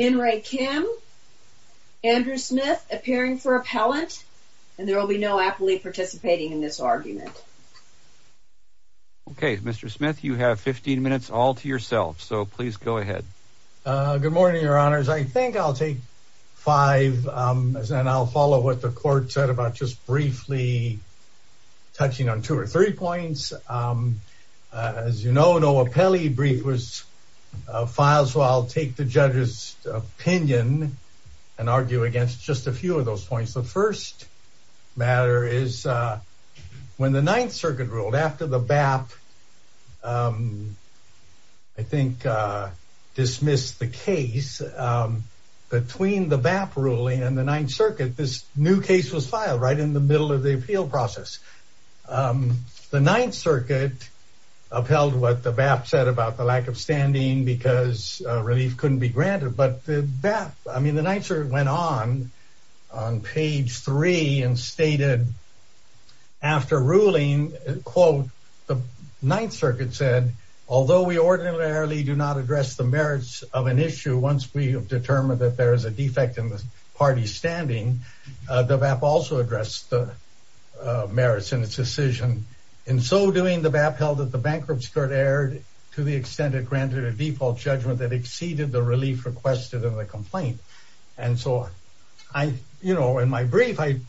Andrew Smith appearing for appellant and there will be no appellee participating in this argument. Okay, Mr. Smith, you have 15 minutes all to yourself, so please go ahead. Good morning, your honors. I think I'll take five and I'll follow what the court said about just briefly touching on two or three points. As you know, no appellee brief was filed, so I'll take the judge's opinion and argue against just a few of those points. The first matter is when the Ninth Circuit ruled after the BAP, I think, dismissed the case between the BAP ruling and the Ninth Circuit, this new case was filed right in the middle of the appeal process. The Ninth Circuit upheld what the BAP said about the lack of standing because relief couldn't be granted, but the BAP, I mean, the Ninth Circuit went on on page three and stated after ruling, quote, the Ninth Circuit said, although we ordinarily do not address the merits of an issue, once we have determined that there is a defect in the party's standing, the BAP also addressed the merits in its decision. In so doing, the BAP held that the bankruptcy court erred to the extent it granted a default judgment that exceeded the relief requested in the complaint. And so I, you know, in my brief, I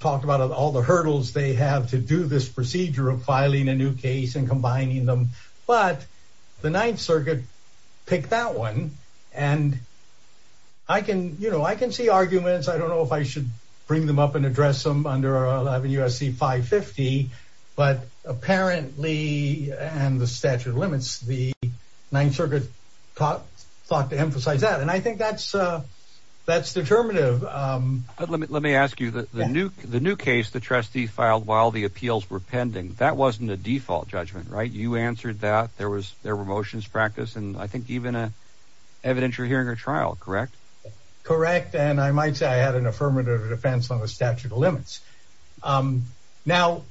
talked about all the hurdles they have to do this procedure of filing a new case and combining them, but the Ninth Circuit picked that one and I can, you know, I can see arguments. I don't know if I should bring them up and address them under 11 U.S.C. 550, but apparently and the statute of limits, the Ninth Circuit thought to emphasize that. And I think that's that's determinative. But let me let me ask you that the new the new case the trustee filed while the appeals were pending, that wasn't a default judgment, right? You answered that there was there were motions practice. And I think even a evidentiary hearing or trial. Correct. Correct. And I might say I had an affirmative defense on the statute of limits. Now,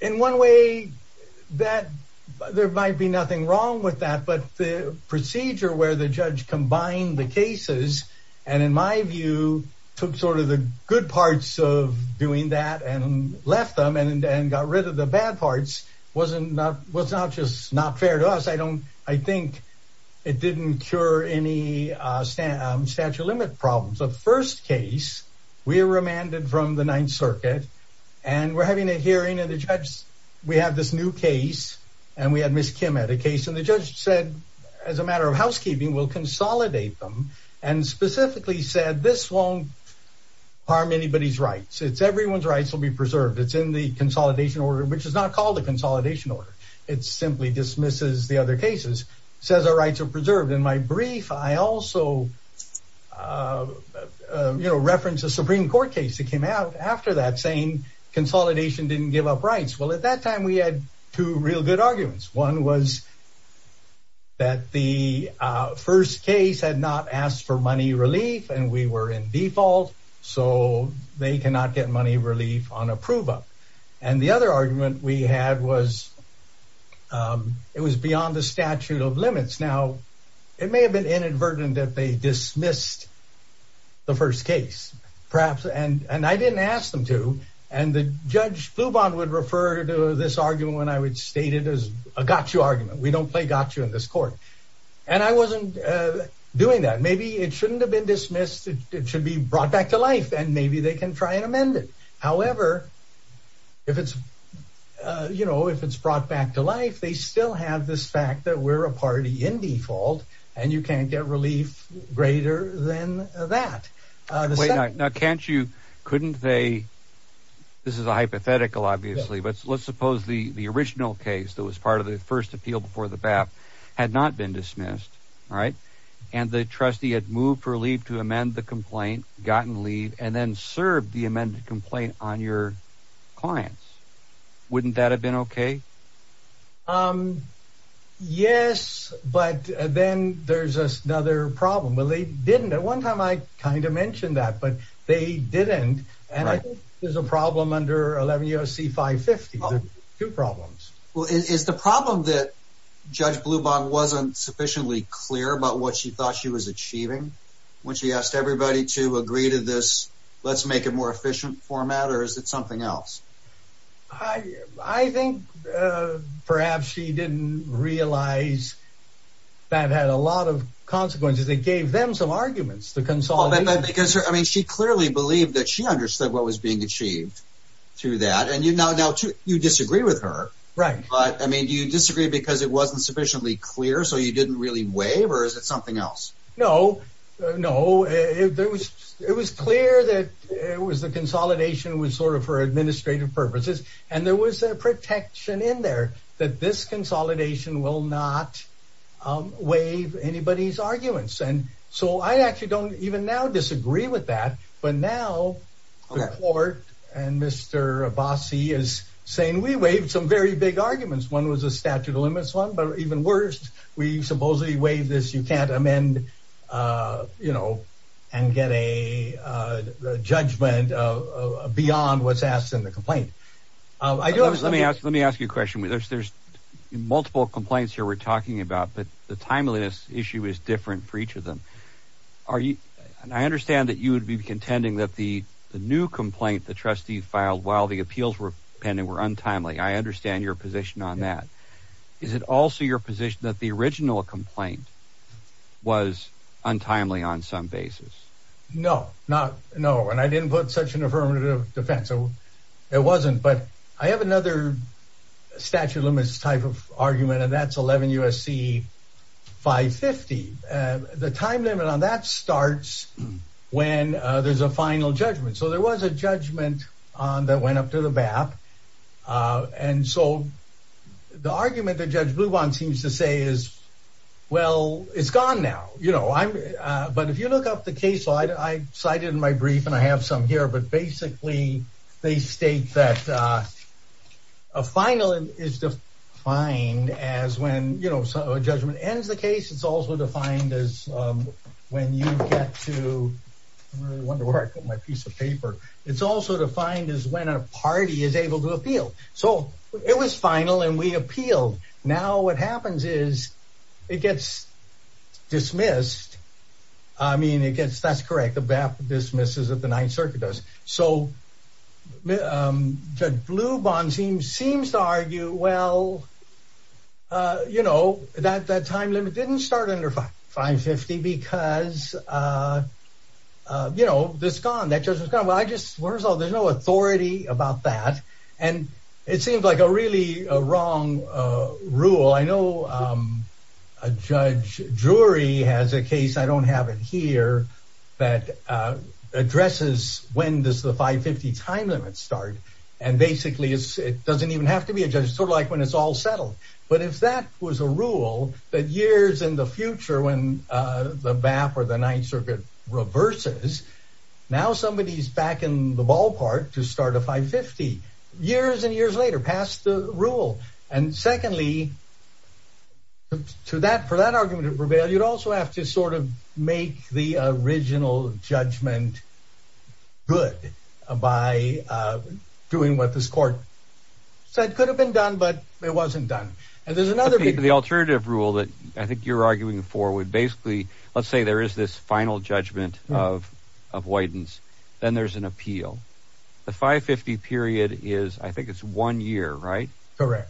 in one way that there might be nothing wrong with that, but the procedure where the judge combined the cases and in my view, took sort of the good parts of doing that and left them and got rid of the bad parts wasn't not was not just not fair to us. I don't I think it didn't cure any statute of limit problems. The first case we remanded from the Ninth Circuit and we're having a hearing and the judge, we have this new case and we had Miss Kim at a case. And the judge said as a matter of housekeeping, we'll consolidate them and specifically said this won't harm anybody's rights. It's everyone's rights will be preserved. It's in the consolidation order, which is not called a consolidation order. It simply dismisses the other cases, says our rights are preserved. In my brief, I also, you know, reference a Supreme Court case that came out after that saying consolidation didn't give up rights. Well, at that time, we had two real good arguments. One was. That the first case had not asked for money relief and we were in default, so they cannot get money relief on approval. And the other argument we had was it was beyond the statute of limits. Now, it may have been inadvertent that they dismissed the first case, perhaps. And and I didn't ask them to. And the judge would refer to this argument when I would state it as a gotcha argument. We don't play gotcha in this court. And I wasn't doing that. Maybe it shouldn't have been dismissed. It should be brought back to life and maybe they can try and amend it. However, if it's, you know, if it's brought back to life, they still have this fact that we're a party in default and you can't get relief greater than that. Now, can't you? Couldn't they? This is a hypothetical, obviously, but let's suppose the the original case that was part of the first appeal before the BAP had not been dismissed. All right. And the trustee had moved for leave to amend the complaint, gotten leave and then served the amended complaint on your clients. Wouldn't that have been OK? Yes, but then there's another problem. Well, they didn't at one time. I kind of mentioned that, but they didn't. And I think there's a problem under 11 U.S. C5 50. Two problems. Well, is the problem that Judge Blubach wasn't sufficiently clear about what she thought she was achieving when she asked everybody to agree to this? Let's make it more efficient format. Or is it something else? I think perhaps she didn't realize that had a lot of consequences. They gave them some arguments to consolidate because I mean, she clearly believed that she understood what was being achieved through that. And, you know, now you disagree with her. Right. But I mean, do you disagree because it wasn't sufficiently clear? So you didn't really waive or is it something else? No, no. It was it was clear that it was the consolidation was sort of for administrative purposes. And there was a protection in there that this consolidation will not waive anybody's arguments. And so I actually don't even now disagree with that. But now the court and Mr. Abbasi is saying we waived some very big arguments. One was a statute of limits one. But even worse, we supposedly waive this. You can't amend, you know, and get a judgment beyond what's asked in the complaint. I do. Let me ask. Let me ask you a question. There's multiple complaints here we're talking about, but the timeliness issue is different for each of them. Are you and I understand that you would be contending that the new complaint the trustee filed while the appeals were pending were untimely. I understand your position on that. Is it also your position that the original complaint was untimely on some basis? No, not no. And I didn't put such an affirmative defense. So it wasn't. But I have another statute of limits type of argument, and that's 11 U.S.C. 550. The time limit on that starts when there's a final judgment. So there was a judgment that went up to the BAP. And so the argument that Judge Bluban seems to say is, well, it's gone now. You know, I'm. But if you look up the case, I cited in my brief and I have some here. But basically, they state that a final is defined as when, you know, a judgment ends the case. It's also defined as when you get to wonder where I put my piece of paper. It's also defined as when a party is able to appeal. So it was final and we appealed. Now what happens is it gets dismissed. I mean, it gets that's correct. The BAP dismisses of the Ninth Circuit does. So Judge Bluban seems seems to argue, well, you know, that that time limit didn't start under 550 because, you know, that's gone. That judge was gone. Well, I just there's no authority about that. And it seems like a really wrong rule. Well, I know a judge jury has a case, I don't have it here, that addresses when does the 550 time limit start? And basically, it doesn't even have to be a judge, sort of like when it's all settled. But if that was a rule that years in the future, when the BAP or the Ninth Circuit reverses, now somebody is back in the ballpark to start a 550 years and years later passed the rule. And secondly, to that for that argument of reveal, you'd also have to sort of make the original judgment good by doing what this court said could have been done, but it wasn't done. And there's another the alternative rule that I think you're arguing for would basically let's say there is this final judgment of avoidance, then there's an year, right?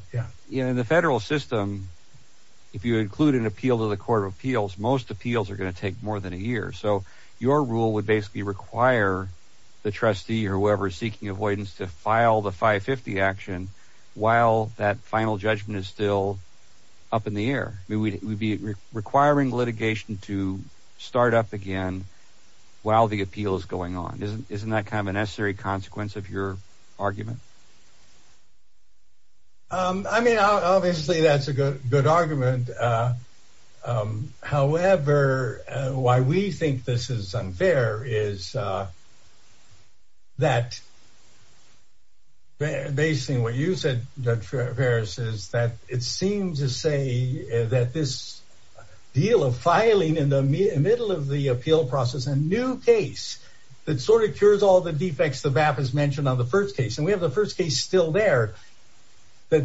In the federal system, if you include an appeal to the Court of Appeals, most appeals are going to take more than a year. So your rule would basically require the trustee or whoever is seeking avoidance to file the 550 action while that final judgment is still up in the air. We would be requiring litigation to start up again while the appeal is going on. Isn't that kind of a necessary consequence of your argument? I mean, obviously, that's a good argument. However, why we think this is unfair is. That. Basing what you said, Judge Ferris, is that it seems to say that this deal of filing in the middle of the appeal process, a new case that sort of cures all the defects the BAP has mentioned on the first case, and we have the first case still there that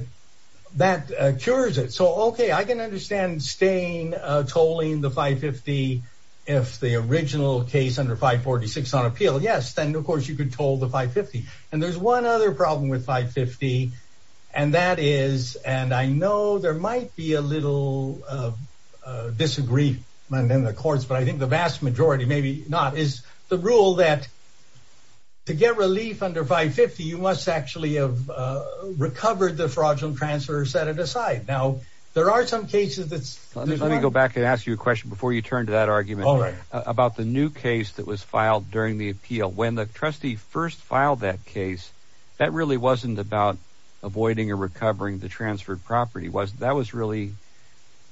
that cures it. So, OK, I can understand staying tolling the 550 if the original case under 546 on appeal. Yes, then, of course, you could told the 550. And there's one other problem with 550, and that is and I know there might be a little disagreement in the courts, but I think the vast majority, maybe not, is the rule that to get relief under 550, you must actually have recovered the fraudulent transfer or set it aside. Now, there are some cases that let me go back and ask you a question before you turn to that argument about the new case that was filed during the appeal. When the trustee first filed that case, that really wasn't about avoiding or recovering the transferred property was that was really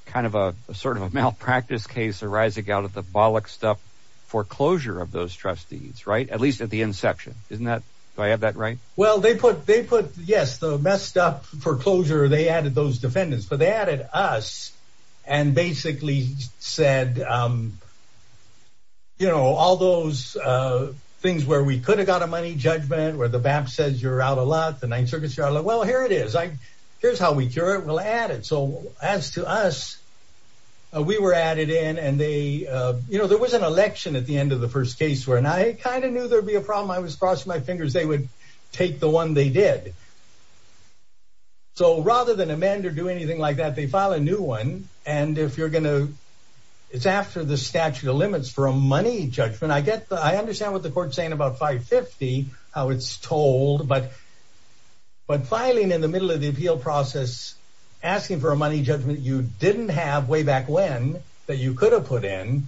kind of a sort of a malpractice case arising out of the bollocks stuff foreclosure of those trustees. Right. At least at the end section. Isn't that I have that right? Well, they put they put, yes, the messed up foreclosure. They added those defendants. But they added us and basically said, you know, all those things where we could have got a money judgment, where the BAP says you're out a lot, the Ninth Circuit, Charlotte. Well, here it is. Here's how we cure it. So as to us, we were added in and they you know, there was an election at the end of the first case where and I kind of knew there'd be a problem. I was crossing my fingers. They would take the one they did. So rather than amend or do anything like that, they file a new one. And if you're going to it's after the statute of limits for a money judgment, I get I understand what the court saying about 550, how it's told. But. But filing in the middle of the appeal process, asking for a money judgment you didn't have way back when that you could have put in,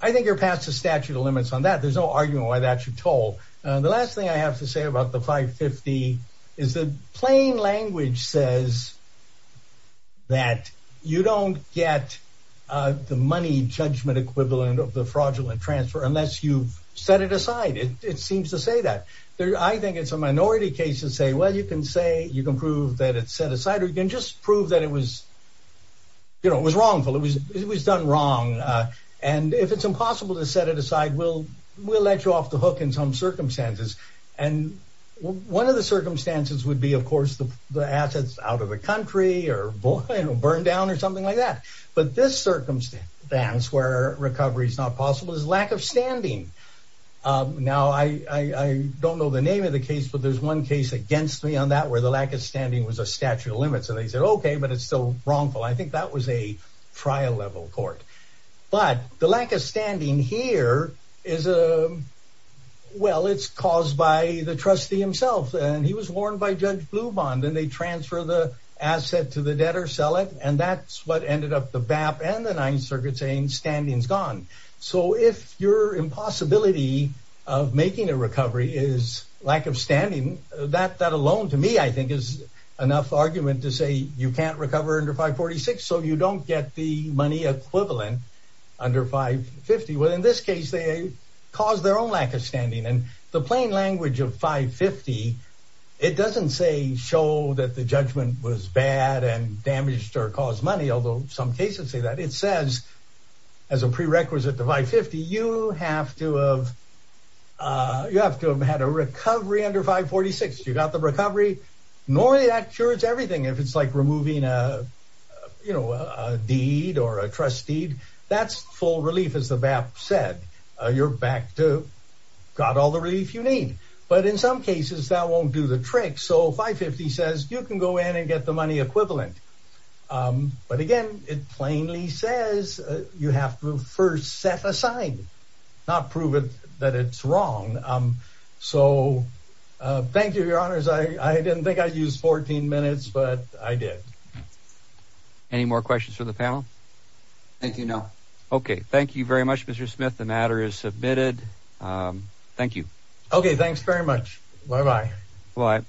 I think you're past the statute of limits on that. There's no argument why that you're told. The last thing I have to say about the 550 is that plain language says. That you don't get the money judgment equivalent of the fraudulent transfer unless you've set it aside, it seems to say that. I think it's a minority case to say, well, you can say you can prove that it's set aside or you can just prove that it was. You know, it was wrongful, it was it was done wrong, and if it's impossible to set it aside, we'll we'll let you off the hook in some circumstances. And one of the circumstances would be, of course, the assets out of the country or burned down or something like that. But this circumstance where recovery is not possible is lack of standing. Now, I don't know the name of the case, but there's one case against me on that where the lack of standing was a statute of limits. And they said, OK, but it's still wrongful. I think that was a trial level court. But the lack of standing here is a well, it's caused by the trustee himself. And he was warned by Judge Blum on. Then they transfer the asset to the debtor, sell it. And that's what ended up the BAP and the Ninth Circuit saying standing is gone. So if your impossibility of making a recovery is lack of standing, that that alone to me, I think, is enough argument to say you can't recover under 546. So you don't get the money equivalent under 550. Well, in this case, they cause their own lack of standing. And the plain language of 550, it doesn't say show that the judgment was bad and damaged or caused money, although some cases say that it says as a prerequisite to 550, you have to have you have to have had a recovery under 546. You got the recovery. Normally, that cures everything. If it's like removing a, you know, a deed or a trust deed, that's full relief. As the BAP said, you're back to got all the relief you need. But in some cases that won't do the trick. So 550 says you can go in and get the money equivalent. But again, it plainly says you have to first set aside, not prove that it's wrong. So thank you, your honors. I didn't think I used 14 minutes, but I did. Any more questions for the panel? Thank you. No. OK, thank you very much, Mr. Smith. The matter is submitted. Thank you. OK, thanks very much. Bye bye. Bye.